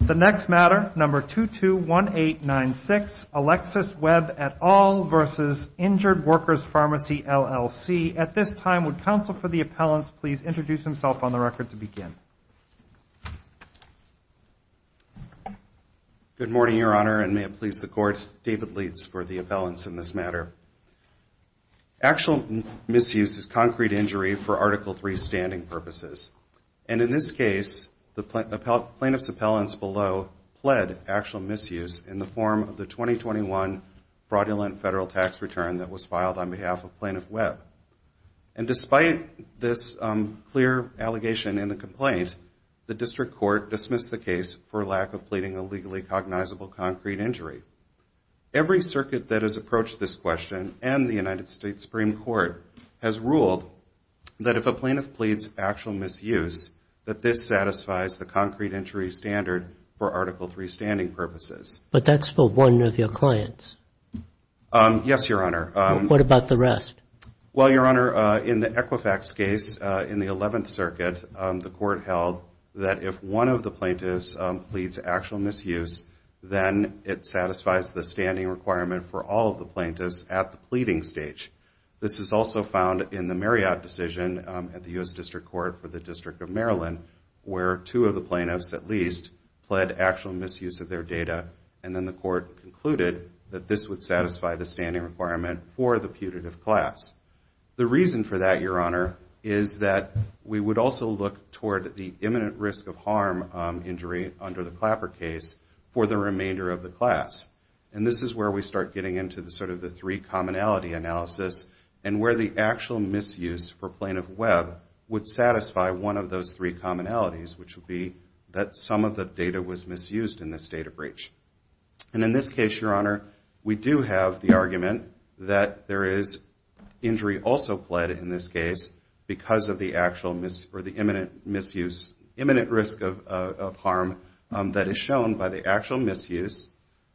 The next matter, number 221896, Alexis Webb et al. versus Injured Workers Pharmacy, LLC. At this time, would counsel for the appellants please introduce himself on the record to begin. Good morning, Your Honor, and may it please the Court, David Leitz for the appellants in this matter. Actual misuse is concrete injury for Article III standing purposes. And in this case, the plaintiff's appellants below pled actual misuse in the form of the 2021 fraudulent federal tax return that was filed on behalf of Plaintiff Webb. And despite this clear allegation in the complaint, the District Court dismissed the case for lack of pleading a legally cognizable concrete injury. Every circuit that has approached this question and the United States Supreme Court has ruled that if a plaintiff pleads actual misuse, that this satisfies the concrete injury standard for Article III standing purposes. But that's for one of your clients. Yes, Your Honor. What about the rest? Well, Your Honor, in the Equifax case in the 11th Circuit, the Court held that if one of the plaintiffs pleads actual misuse, then it satisfies the standing requirement for all of the plaintiffs at the pleading stage. This is also found in the Marriott decision at the U.S. District Court for the District of Maryland, where two of the plaintiffs at least pled actual misuse of their data. And then the Court concluded that this would satisfy the standing requirement for the putative class. The reason for that, Your Honor, is that we would also look toward the imminent risk of harm injury under the Clapper case for the remainder of the class. And this is where we start getting into sort of the three commonality analysis and where the actual misuse for Plaintiff Webb would satisfy one of those three commonalities, which would be that some of the data was misused in this data breach. And in this case, Your Honor, we do have the argument that there is imminent risk of harm that is shown by the actual misuse.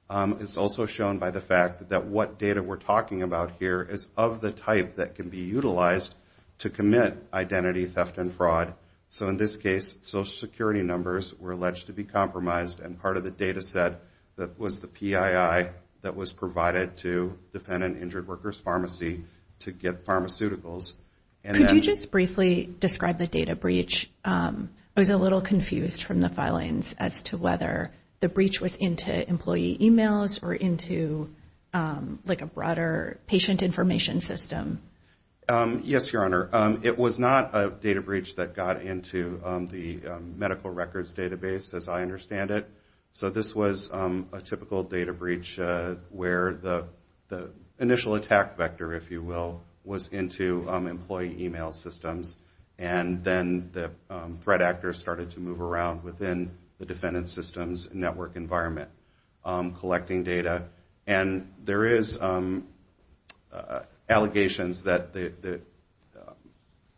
It's also shown by the fact that what data we're talking about here is of the type that can be utilized to commit identity theft and fraud. So in this case, Social Security numbers were alleged to be compromised and part of the data set that was the PII that was provided to defend an injured worker's identity. And so when you describe the data breach, I was a little confused from the filings as to whether the breach was into employee e-mails or into like a broader patient information system. Yes, Your Honor. It was not a data breach that got into the medical records database as I understand it. So this was a typical data breach where the initial attack vector, if you will, was into employee e-mail systems and then the threat actors started to move around within the defendant system's network environment, collecting data. And there is allegations that the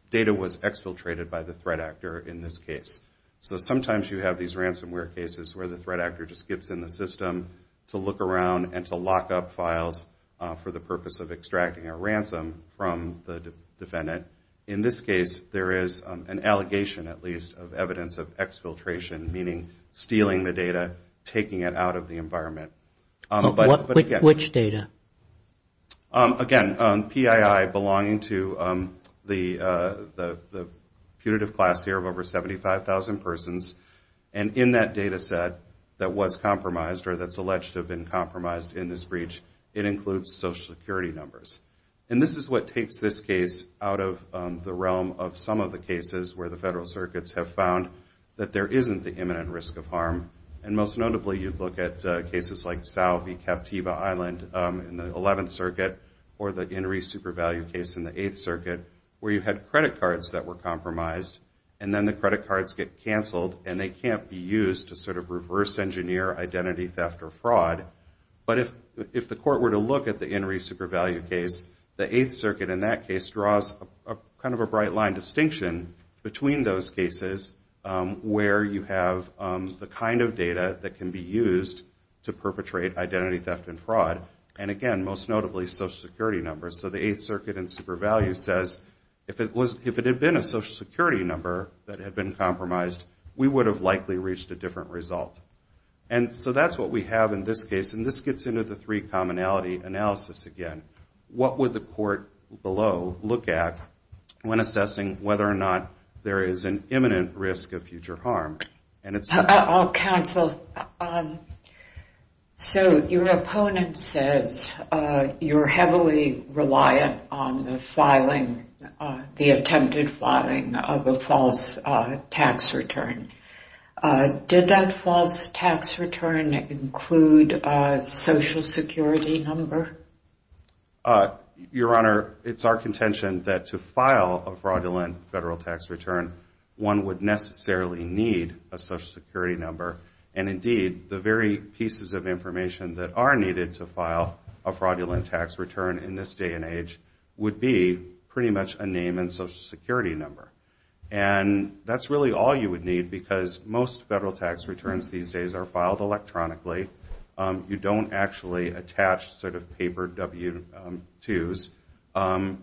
data was exfiltrated by the threat actor in this case. So sometimes you have these ransomware cases where the threat actor just gets in the system to look around and to lock up files for the purpose of extracting a ransom from the defendant. In this case, there is an allegation at least of evidence of exfiltration, meaning stealing the data, taking it out of the environment. Which data? Again, PII belonging to the punitive class here of over 75,000 persons. And in that data set that was compromised or that's alleged to have been compromised in this breach, it includes Social Security numbers. And this is what takes this case out of the realm of some of the cases where the federal circuits have found that there is fraud in the 11th Circuit or the In Re Supervalue case in the 8th Circuit, where you had credit cards that were compromised and then the credit cards get canceled and they can't be used to sort of reverse engineer identity theft or fraud. But if the court were to look at the In Re Supervalue case, the 8th Circuit in that case draws kind of a bright line distinction between those cases where you have the kind of data that can be used to perpetrate identity theft and fraud. And again, most notably, Social Security numbers. So the 8th Circuit in Supervalue says if it had been a Social Security number that had been compromised, we would have likely reached a different result. And so that's what we have in this case. And this gets into the three commonality analysis again. What would the court below look at when assessing whether or not there is an imminent risk of future harm? Counsel, so your opponent says you're heavily reliant on the attempted filing of a false tax return. Did that false tax return include a Social Security number? Your Honor, it's our contention that to file a fraudulent federal tax return, one would necessarily need a Social Security number. And indeed, the very pieces of information that are needed to file a fraudulent tax return in this day and age would be pretty much a name and Social Security number. And that's really all you would need because most federal tax returns these days are filed electronically. You don't actually attach sort of paper W-2s.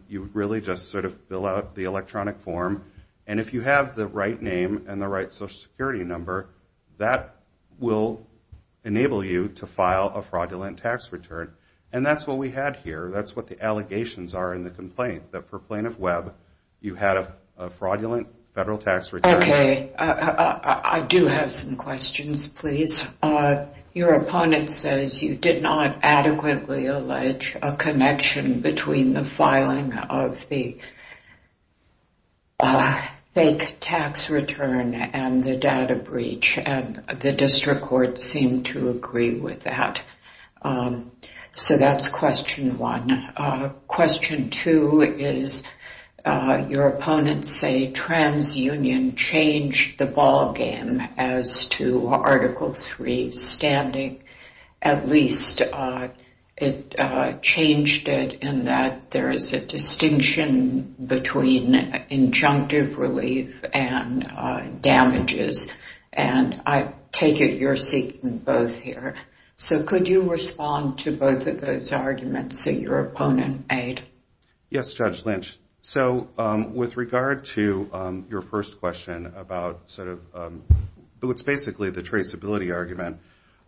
You really just sort of fill out the electronic form. And if you have the right name and the right Social Security number, that will enable you to file a fraudulent tax return. And that's what we had here. That's what the allegations are in the complaint, that for Plaintiff Webb, you had a fraudulent federal tax return. Okay. I do have some questions, please. Your opponent says you did not adequately allege a connection between the filing of the fake tax return and the data breach. And the district court seemed to agree with that. So that's question one. Question two is your opponents say TransUnion changed the ball game as to Article III standing. At least it changed it in that there is a distinction between injunctive relief and damages. And I take it you're seeking both here. So could you respond to both of those arguments that your opponent made? Yes, Judge Lynch. So with regard to your first question about sort of what's basically the traceability argument,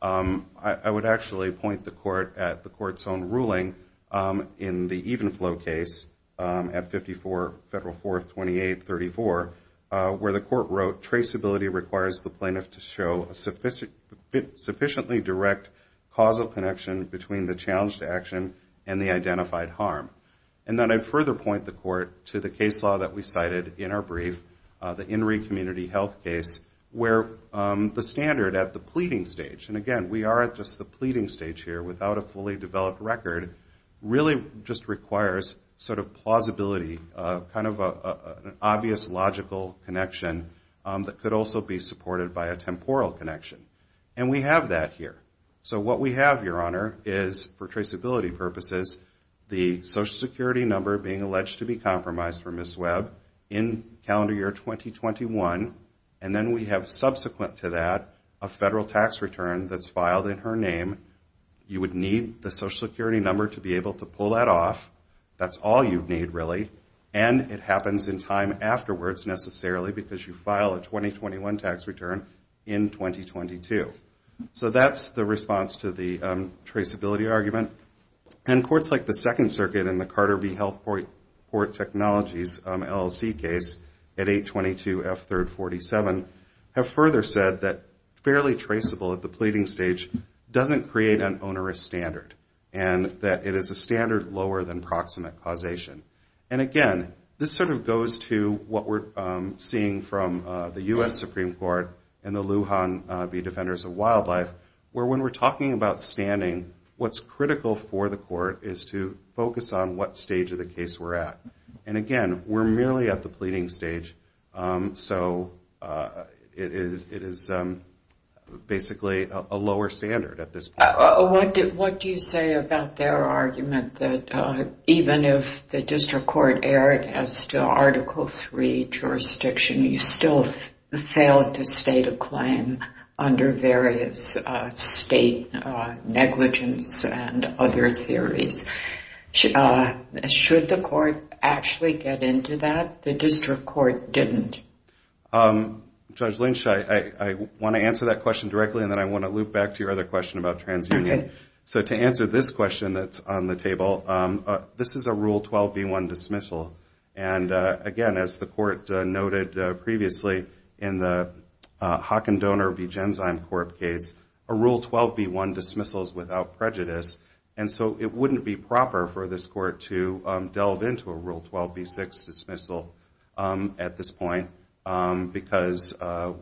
I would actually point the court at the court's own ruling in the even flow case at 54 Federal 4th 2834, where the court wrote traceability requires the plaintiff to show a sufficiently direct causal connection between the challenge to action and the identified harm. And then I'd further point the court to the case law that we cited in our brief, the Inree Community Health case, where the standard at the pleading stage, and again, we are at just the pleading stage here without a fully developed record, really just requires sort of plausibility, kind of an obvious logical connection that could also be supported by a temporal connection. And we have that here. So what we have, Your Honor, is for traceability purposes, the Social Security number being alleged to be compromised for Ms. Webb in calendar year 2021. And then we have subsequent to that a federal tax return that's filed in her name. You would need the Social Security number to be able to pull that off. That's all you need, really. And it happens in time afterwards, necessarily, because you file a 2021 tax return in 2022. So that's the response to the traceability argument. And courts like the Second Circuit and the Carter v. Health Port Technologies LLC case at 822 F 3rd 47 have further said that fairly traceable at the pleading stage doesn't create an onerous standard and that it is a standard lower than proximate causation. And again, this sort of goes to what we're seeing from the U.S. Supreme Court and the Lujan v. Defenders of Wildlife, where when we're talking about standing, what's critical for the court is to focus on what stage of the case we're at. And again, we're merely at the pleading stage. So it is basically a lower standard at this point. What do you say about their argument that even if the district court erred as to Article III jurisdiction, you still failed to state a claim under various state negligence and other theories? Should the court actually get into that? The district court didn't. Judge Lynch, I want to answer that question directly, and then I want to loop back to your other question about transunion. So to answer this question that's on the table, this is a Rule 12b1 dismissal. And again, as the court noted previously in the Haakon Donor v. Genzyme Corp case, a Rule 12b1 dismissal is without prejudice. And so it wouldn't be proper for this court to delve into a Rule 12b6 dismissal at this point, because it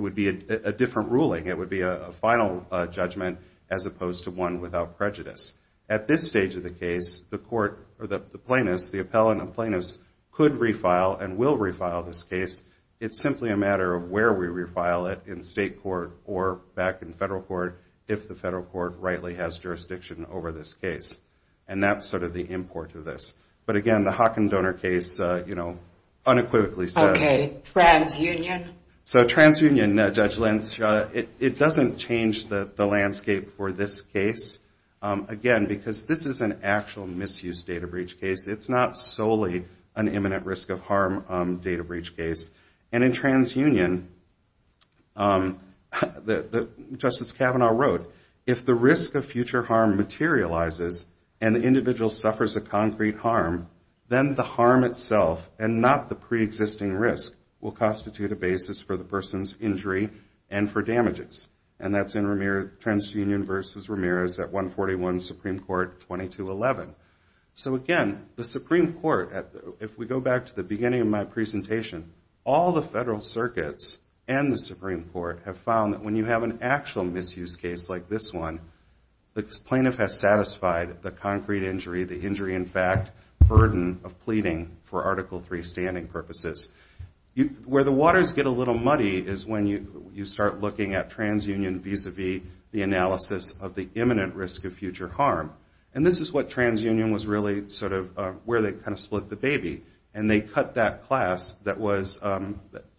would be a different ruling. It would be a final judgment as opposed to one without prejudice. At this stage of the case, the plaintiffs, the appellant and plaintiffs could refile and will refile this case. It's simply a matter of where we refile it, back in state court or back in federal court, if the federal court rightly has jurisdiction over this case. And that's sort of the import of this. But again, the Haakon Donor case unequivocally says... So transunion, Judge Lynch, it doesn't change the landscape for this case. Again, because this is an actual misuse data breach case, it's not solely an imminent risk of harm data breach case. And in transunion, Justice Kavanaugh wrote, if the risk of future harm materializes and the individual suffers a concrete harm, then the harm itself and not the preexisting risk will constitute a basis for the person's injury and for damages. And that's in Transunion v. Ramirez at 141 Supreme Court 2211. So again, the Supreme Court, if we go back to the beginning of my presentation, all the federal circuits and the Supreme Court have found that when you have an actual misuse case like this one, the plaintiff has satisfied the concrete injury, the injury in fact, burden of pleading for Article III standing purposes. Where the waters get a little muddy is when you start looking at transunion vis-a-vis the analysis of the imminent risk of future harm. And this is what transunion was really sort of where they kind of split the baby. And they cut that class that was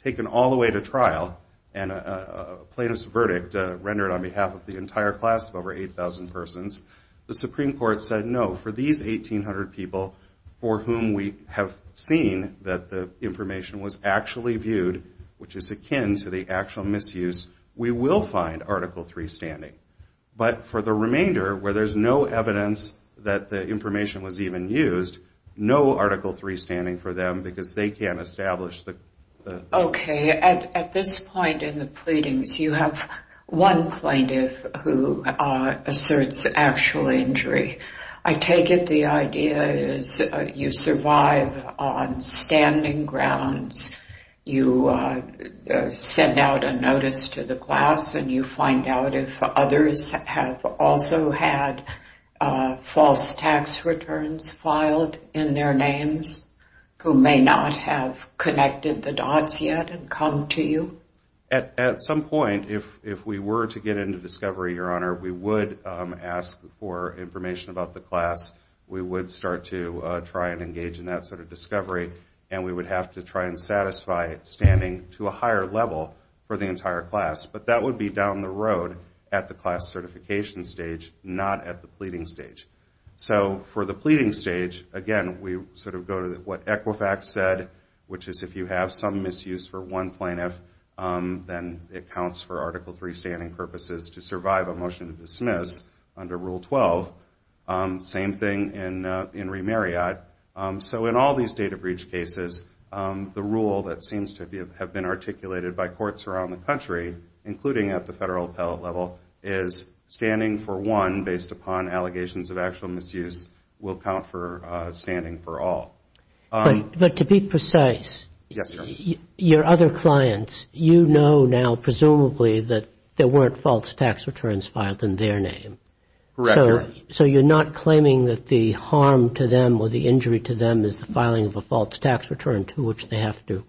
taken all the way to trial and a plaintiff's verdict rendered on behalf of the entire class of over 8,000 persons. The Supreme Court said, no, for these 1,800 people for whom we have seen that the information was used, no Article III standing. But for the remainder, where there's no evidence that the information was even used, no Article III standing for them because they can't establish the... Okay. At this point in the pleadings, you have one plaintiff who asserts actual injury. I take it the idea is you survive on standing grounds, you send out a notice to the class, and you find out if others have also had false tax returns filed in their names who may not have connected the dots yet and come to you? At some point, if we were to get into discovery, Your Honor, we would ask for information about the class. We would start to try and engage in that sort of discovery, and we would have to try and satisfy standing to a higher level for the entire class. But that would be down the road at the class certification stage, not at the pleading stage. So for the pleading stage, again, we sort of go to what Equifax said, which is if you have some misuse for one plaintiff, then it counts for Article III standing purposes to survive a motion to dismiss under Rule 12. Same thing in Remarriott. So in all these data breach cases, the rule that seems to have been articulated by courts around the country, including at the federal appellate level, is standing for one based upon allegations of actual misuse will count for standing for all. But to be precise, your other clients, you know now, presumably, that there weren't false tax returns filed in their name. So you're not claiming that the harm to them or the injury to them is the filing of a false tax return to which they have to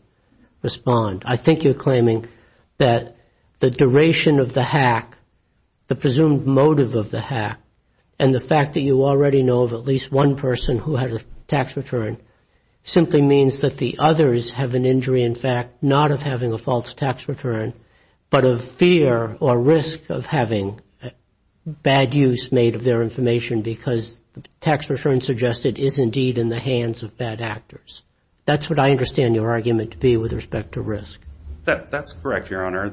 respond. I think you're claiming that the duration of the hack, the presumed motive of the hack, and the fact that you already know of at least one person who had a tax return simply means that the others have an injury, in fact, not of having a false tax return, but of fear or risk of having bad use made of their information because the tax return suggested is indeed in the hands of bad actors. That's what I understand your argument to be with respect to risk. That's correct, Your Honor.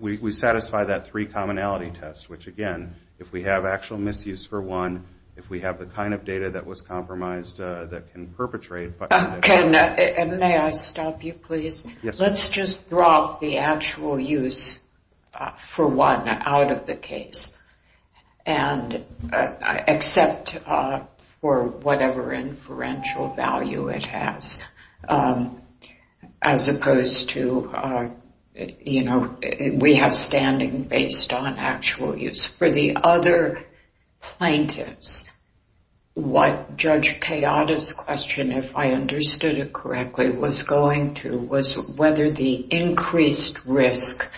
We satisfy that three commonality test, which again, if we have actual misuse for one, if we have the kind of data that was compromised that can perpetrate. May I stop you, please? Let's just drop the actual use for one out of the case and accept for whatever inferential value it has, as opposed to we have standing based on actual use. For the other plaintiffs, what Judge Kayada's question, if I understood it correctly, was going to was whether the increased risk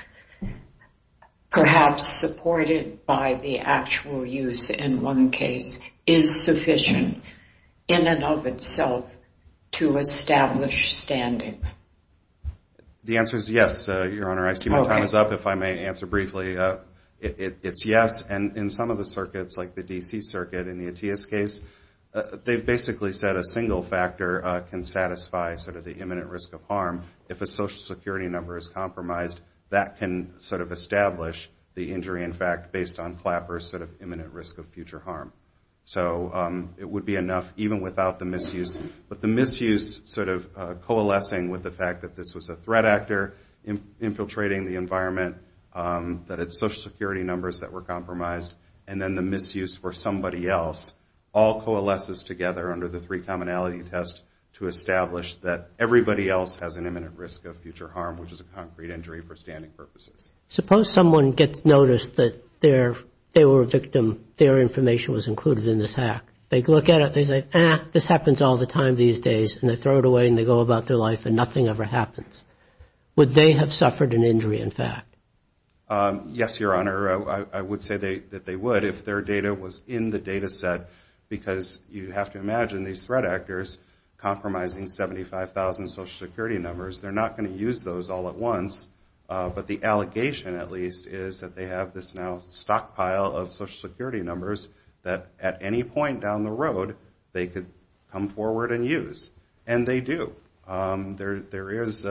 perhaps supported by the actual use in one case is sufficient in and of itself to establish standing. The answer is yes, Your Honor. I see my time is up. If I may answer briefly, it's yes. In some of the circuits, like the D.C. circuit, in the Atiyah's case, they basically said a single factor can satisfy the imminent risk of harm. If a social security number is compromised, that can establish the injury, in fact, based on Flapper's imminent risk of future harm. It would be enough even without the misuse. But the misuse sort of coalescing with the fact that this was a threat actor infiltrating the environment, that it's social security numbers that were compromised, and then the misuse for somebody else, all coalesces together under the three commonality test to establish that everybody else has an imminent risk of future harm, which is a concrete injury for standing purposes. Suppose someone gets noticed that they were a victim, their information was included in this hack. They look at it, they say, ah, this happens all the time these days, and they throw it away and they go about their life and nothing ever happens. Would they have suffered an injury, in fact? Yes, Your Honor. I would say that they would if their data was in the data set, because you have to imagine these threat actors compromising 75,000 social security numbers. They're not going to use those all at once. But the allegation, at least, is that they have this now stockpile of social security numbers that at any point down the road they could come forward and use. And they do. There is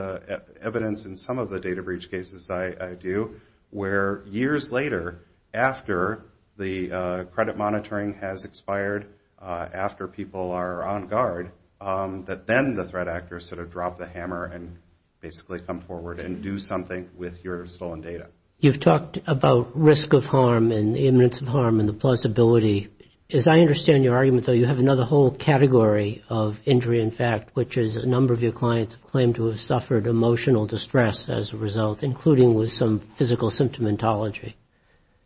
evidence in some of the data breach cases I do, where years later, after the credit monitoring has expired, after people are on guard, that then the threat actors sort of drop the hammer and basically come forward and do something with your stolen data. You've talked about risk of harm and the imminence of harm and the plausibility. As I understand your argument, though, you have another whole category of injury, in fact, which is a number of your clients have claimed to have suffered emotional distress as a result, including with some physical symptomatology.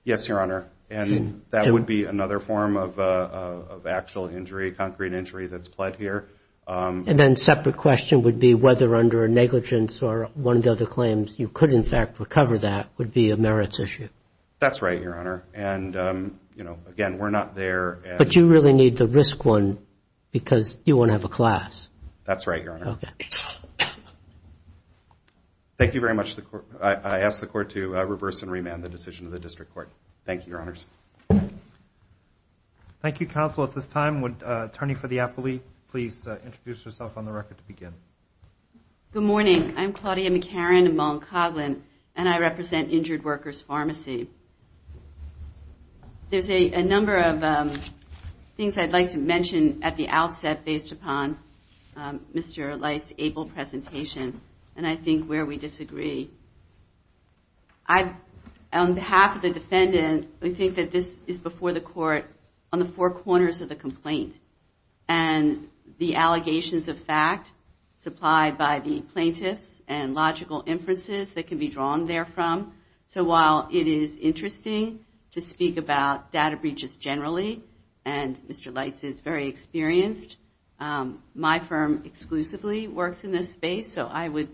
Yes, Your Honor. And that would be another form of actual injury, concrete injury that's pled here. And then a separate question would be whether under a negligence or one of the other claims you could, in fact, recover that would be a merits issue. That's right, Your Honor. And, you know, again, we're not there. But you really need the risk one because you won't have a class. That's right, Your Honor. Thank you very much. I ask the court to reverse and remand the decision of the district court. Thank you, Your Honors. Thank you, counsel. At this time, would the attorney for the appellee please introduce herself on the record to begin? Good morning. I'm Claudia McCarran of Mount Coghlan, and I represent Injured Workers Pharmacy. There's a number of things I'd like to mention at the outset based upon Mr. Light's able presentation, and I think where we disagree. On behalf of the defendant, we think that this is before the court on the four corners of the complaint. And the allegations of fact supplied by the plaintiffs and logical inferences that can be drawn therefrom. So while it is interesting to speak about data breaches generally, and Mr. Light's is very experienced, my firm exclusively works in this space, so I would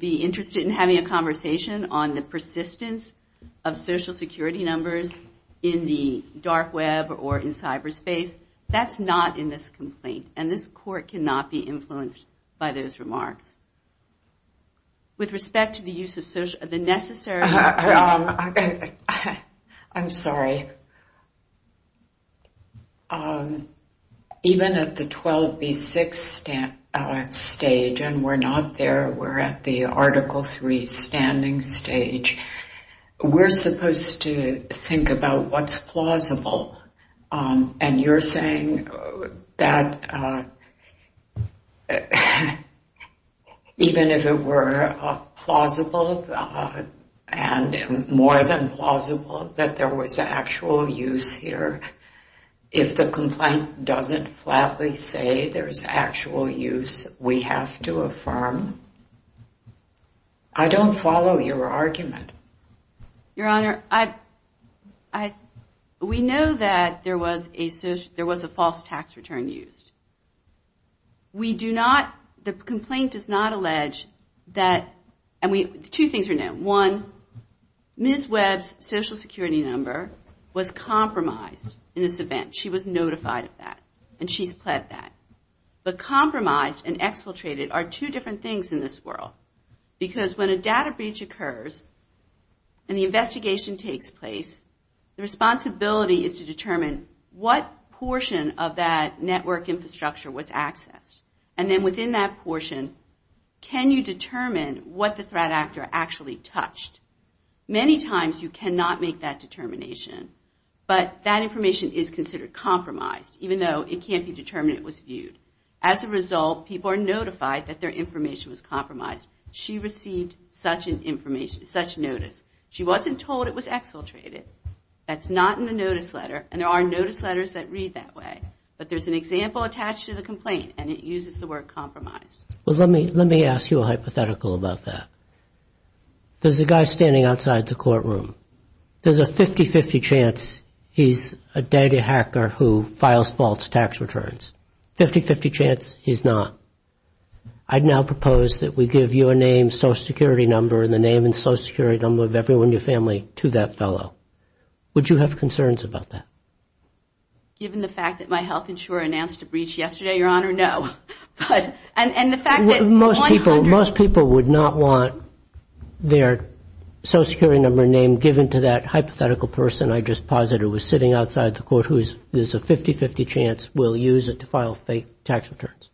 be interested in having a conversation on the persistence of social security numbers in the dark web or in cyberspace. That's not in this complaint, and this court cannot be influenced by those remarks. With respect to the use of social... Even at the 12B6 stage, and we're not there, we're at the Article III standing stage, we're supposed to think about what's plausible, and you're saying that even if it were plausible and more than plausible, that there was actual use here. If the complaint doesn't flatly say there's actual use, we have to affirm. I don't follow your argument. Your Honor, we know that there was a false tax return used. The complaint does not allege that... Two things are known. One, Ms. Webb's social security number was compromised. She was notified of that, and she's pled that. But compromised and exfiltrated are two different things in this world, because when a data breach occurs and the investigation takes place, the responsibility is to determine what portion of that network infrastructure was accessed. And then within that portion, can you determine what the threat actor actually touched? Many times you cannot make that determination, but that information is considered compromised, even though it can't be determined it was viewed. As a result, people are notified that their information was compromised. She received such notice. She wasn't told it was exfiltrated. That's not in the notice letter, and there are notice letters that read that way. But there's an example attached to the complaint, and it uses the word compromised. Well, let me ask you a hypothetical about that. There's a guy standing outside the courtroom. There's a 50-50 chance he's a data hacker who files false tax returns. 50-50 chance he's not. I'd now propose that we give your name, social security number, and the name and social security number of everyone in your family to that fellow. Would you have concerns about that? Given the fact that my health insurer announced a breach yesterday, Your Honor, no. Most people would not want their social security number and name given to that hypothetical person I just posited who was sitting outside the court, who is a 50-50 chance will use it to file fake tax returns.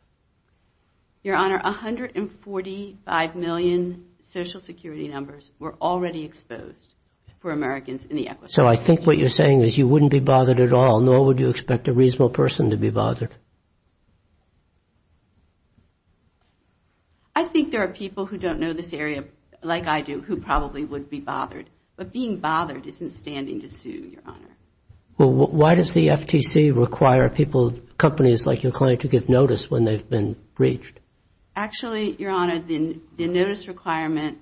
Your Honor, 145 million social security numbers were already exposed for Americans in the equestrian community. So I think what you're saying is you wouldn't be bothered at all, nor would you expect a reasonable person to be bothered. I think there are people who don't know this area, like I do, who probably would be bothered, but being bothered isn't standing to sue, Your Honor. Why does the FTC require companies like your clinic to give notice when they've been breached? Actually, Your Honor, the notice requirement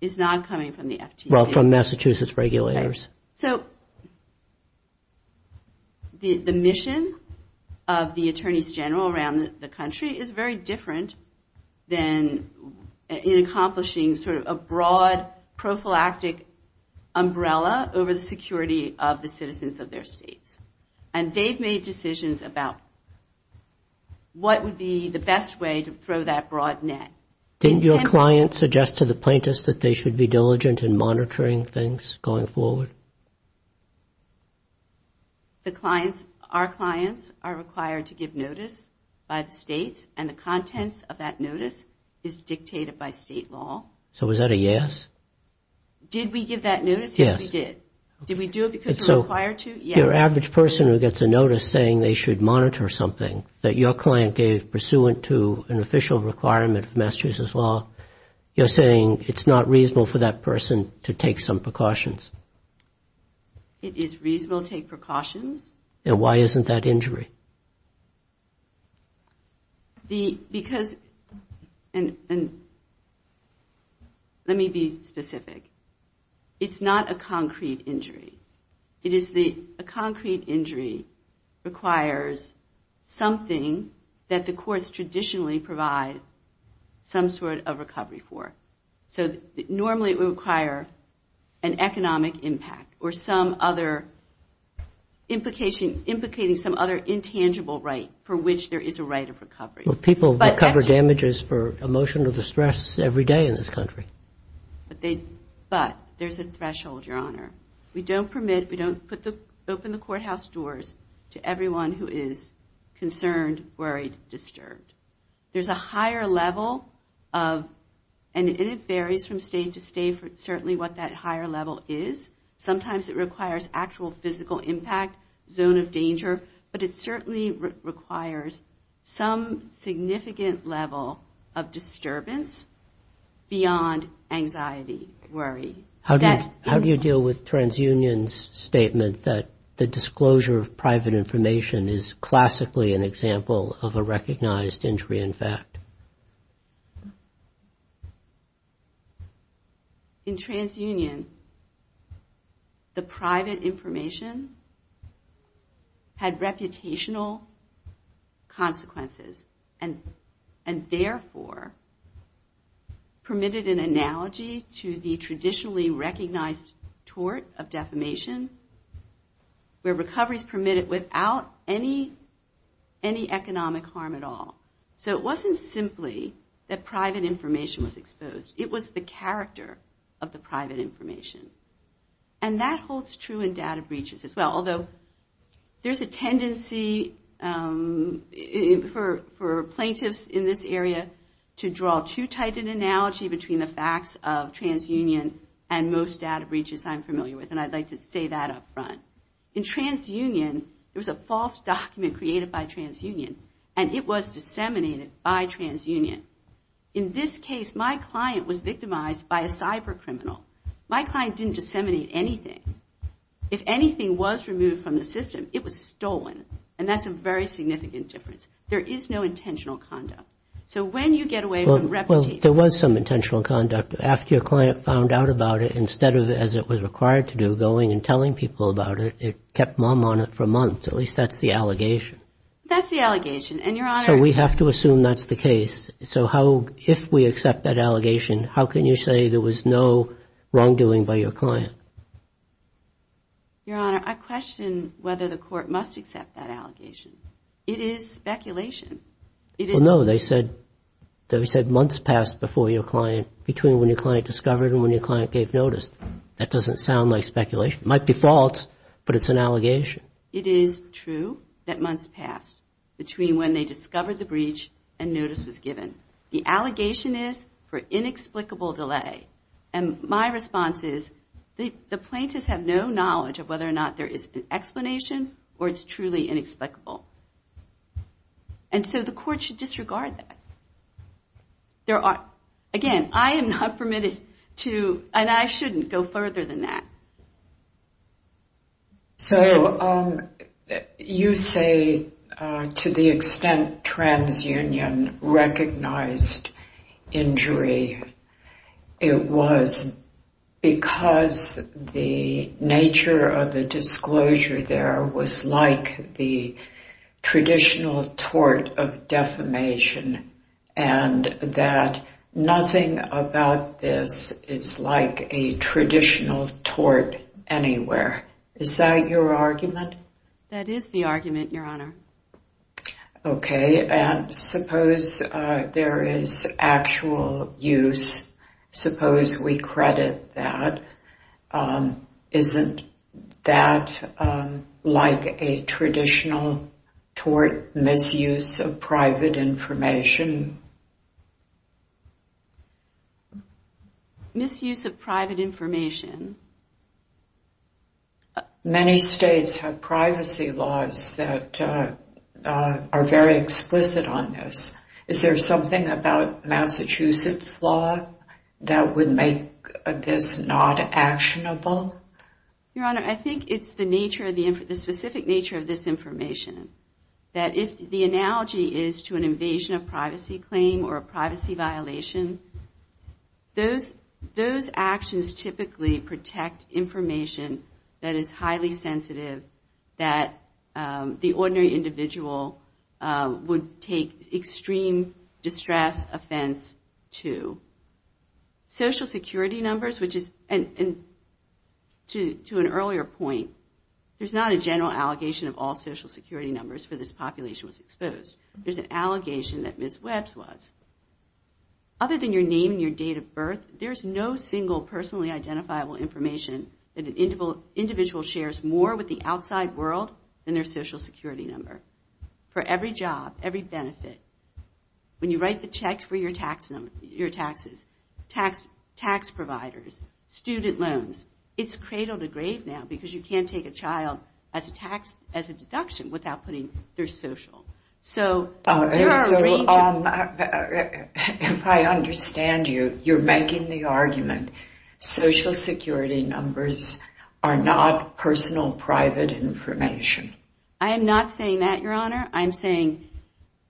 is not coming from the FTC. Well, from Massachusetts regulators. The mission of the attorneys general around the country is very different than in accomplishing sort of a broad prophylactic umbrella over the security of the citizens of their states. And they've made decisions about what would be the best way to throw that broad net. Didn't your client suggest to the plaintiffs that they should be diligent in monitoring things going forward? Our clients are required to give notice by the states, and the contents of that notice is dictated by state law. So was that a yes? Did we give that notice? Yes, we did. Did we do it because we were required to? Yes. Is your average person who gets a notice saying they should monitor something that your client gave pursuant to an official requirement of Massachusetts law, you're saying it's not reasonable for that person to take some precautions? It is reasonable to take precautions. And why isn't that injury? Because, and let me be specific, it's not a concrete injury. A concrete injury requires something that the courts traditionally provide some sort of recovery for. So normally it would require an economic impact or some other implication, implicating some other intangible right for which there is a right of recovery. But people recover damages for emotional distress every day in this country. But there's a threshold, Your Honor. We don't open the courthouse doors to everyone who is concerned, worried, disturbed. There's a higher level of, and it varies from state to state, certainly what that higher level is. Sometimes it requires actual physical impact, zone of danger, but it certainly requires some significant level of disturbance beyond anxiety, worry. How do you deal with TransUnion's statement that the disclosure of private information is classically an example of a recognized injury in fact? In TransUnion, the private information had reputational consequences and therefore permitted an analogy to the traditionally recognized tort of defamation where recovery is permitted without any economic harm at all. So it wasn't simply that private information was exposed. It was the character of the private information. And that holds true in data breaches as well, although there's a tendency for plaintiffs in this area to draw too tight an analogy between the facts of TransUnion and most data breaches I'm familiar with, and I'd like to say that up front. In TransUnion, there was a false document created by TransUnion and it was disseminated by TransUnion. In this case, my client was victimized by a cyber criminal. My client didn't disseminate anything. If anything was removed from the system, it was stolen. And that's a very significant difference. There is no intentional conduct. So when you get away from reputation... Well, there was some intentional conduct. After your client found out about it, instead of, as it was required to do, going and telling people about it, it kept mom on it for months. At least that's the allegation. So we have to assume that's the case. So if we accept that allegation, how can you say there was no wrongdoing by your client? Your Honor, I question whether the court must accept that allegation. It is speculation. No, they said months passed before your client, between when your client discovered and when your client gave notice. That doesn't sound like speculation. It might be false, but it's an allegation. It is true that months passed between when they discovered the breach and notice was given. The allegation is for inexplicable delay. And my response is the plaintiffs have no knowledge of whether or not there is an explanation or it's truly inexplicable. And so the court should disregard that. Again, I am not permitted to, and I shouldn't, go further than that. So you say to the extent TransUnion recognized injury, it was because the nature of the disclosure there was like the traditional tort of defamation and that nothing about this is like a traditional tort anywhere. Is that your argument? That is the argument, Your Honor. Okay, and suppose there is actual use. Suppose we credit that. Isn't that like a traditional tort misuse of private information? Misuse of private information? Many states have privacy laws that are very explicit on this. Is there something about both? Your Honor, I think it's the specific nature of this information that if the analogy is to an invasion of privacy claim or a privacy violation, those actions typically protect information that is highly sensitive that the ordinary individual would take extreme distress offense to. Social security numbers, which is, to an earlier point, there is not a general allegation of all social security numbers for this population was exposed. There is an allegation that Ms. Webbs was. Other than your name and your date of birth, there is no single personally identifiable information that an individual shares more with the outside world than their social security number. For every job, every benefit, when you write the check for your taxes, tax providers, student loans, it's cradle to grave now because you can't take a child as a deduction without putting their social. If I understand you, you're making the argument social security numbers are not personal private information. I am not saying that, Your Honor. I'm saying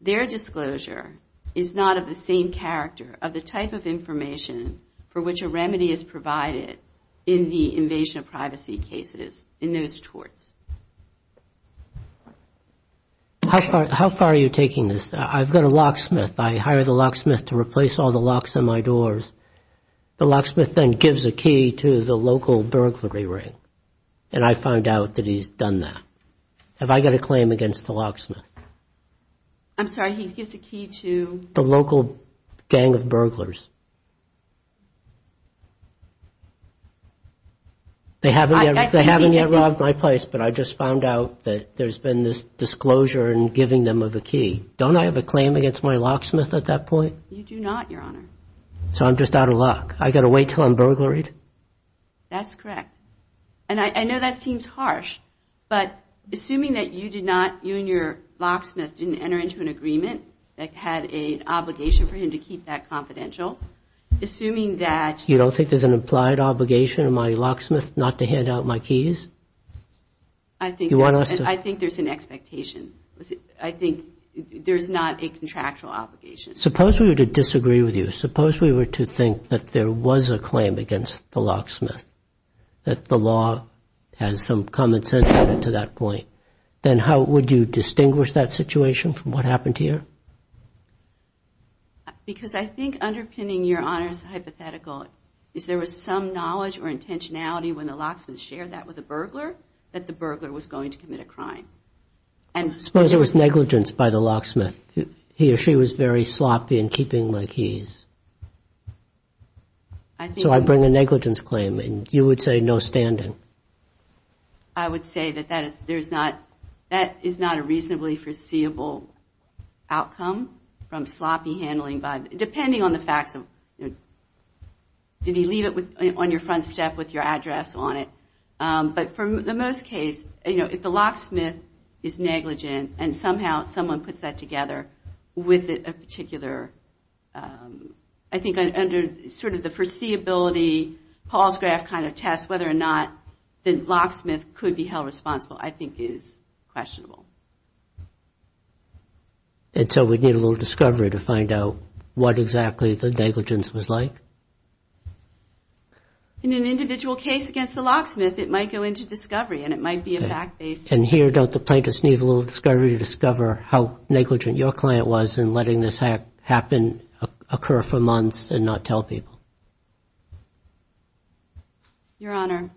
their disclosure is not of the same character of the type of information for which a remedy is provided in the invasion of privacy cases in those courts. How far are you taking this? I've got a locksmith. I hire the locksmith to replace all the burglary ring, and I found out that he's done that. Have I got a claim against the locksmith? I'm sorry. He gives the key to? The local gang of burglars. They haven't yet robbed my place, but I just found out that there's been this disclosure in giving them of a key. Don't I have a claim against my locksmith at that point? You do not, Your Honor. So I'm just out of luck. I've got to wait until I'm burglaried? That's correct. And I know that seems harsh, but assuming that you did not, you and your locksmith didn't enter into an agreement that had an obligation for him to keep that confidential, assuming that... You don't think there's an implied obligation on my locksmith not to hand out my keys? I think there's an expectation. I think there's not a contractual obligation. Suppose we were to disagree with you. Suppose we were to think that there was a claim against the locksmith, that the law has some common sense to that point, then how would you distinguish that situation from what happened here? Because I think underpinning your Honor's hypothetical is there was some knowledge or intentionality when the locksmith shared that with the burglar that the burglar was going to commit a crime. Suppose there was negligence by the locksmith. He or she was very sloppy in keeping my keys. So I bring a negligence claim, and you would say no standing. I would say that that is not a reasonably foreseeable outcome from sloppy handling by... Depending on the facts of... Did he leave it on your front step with your address on it? But for the most case, if the locksmith is negligent and somehow someone puts that together with a particular... I think under sort of the foreseeability Paul's graph kind of test, whether or not the locksmith could be held responsible, I think is questionable. And so we'd need a little discovery to find out what exactly the negligence was like? In an individual case against the locksmith, it might go into discovery, and it might be a fact-based... And here, don't the plaintiffs need a little discovery to discover how negligent your client was in letting this happen occur for months and not tell people? Your Honor,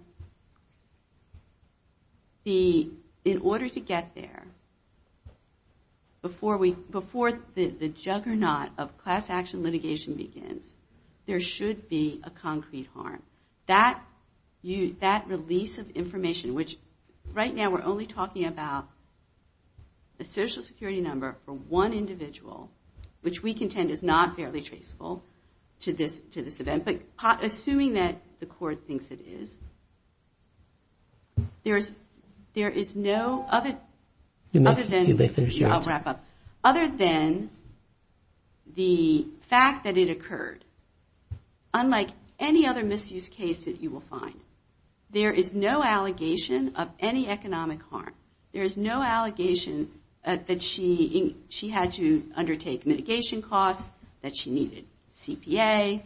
in order to get there, before the juggernaut of class action litigation begins, there should be a concrete harm. That release of information, which right now we're only talking about a social security number for one individual, which we contend is not fairly traceable to this event. But assuming that the court thinks it is, there is no other... I'll wrap up. Other than the fact that it occurred, unlike any other misuse case that you will find, there is no allegation of any economic harm. There is no allegation that she had to undertake mitigation costs, that she needed CPA,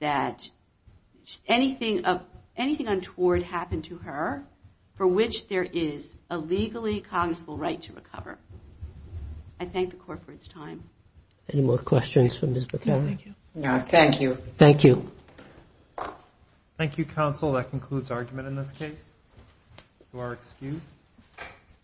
that anything untoward happened to her, for which there is a legally cognizable right to recover. I thank the court for its time. Thank you.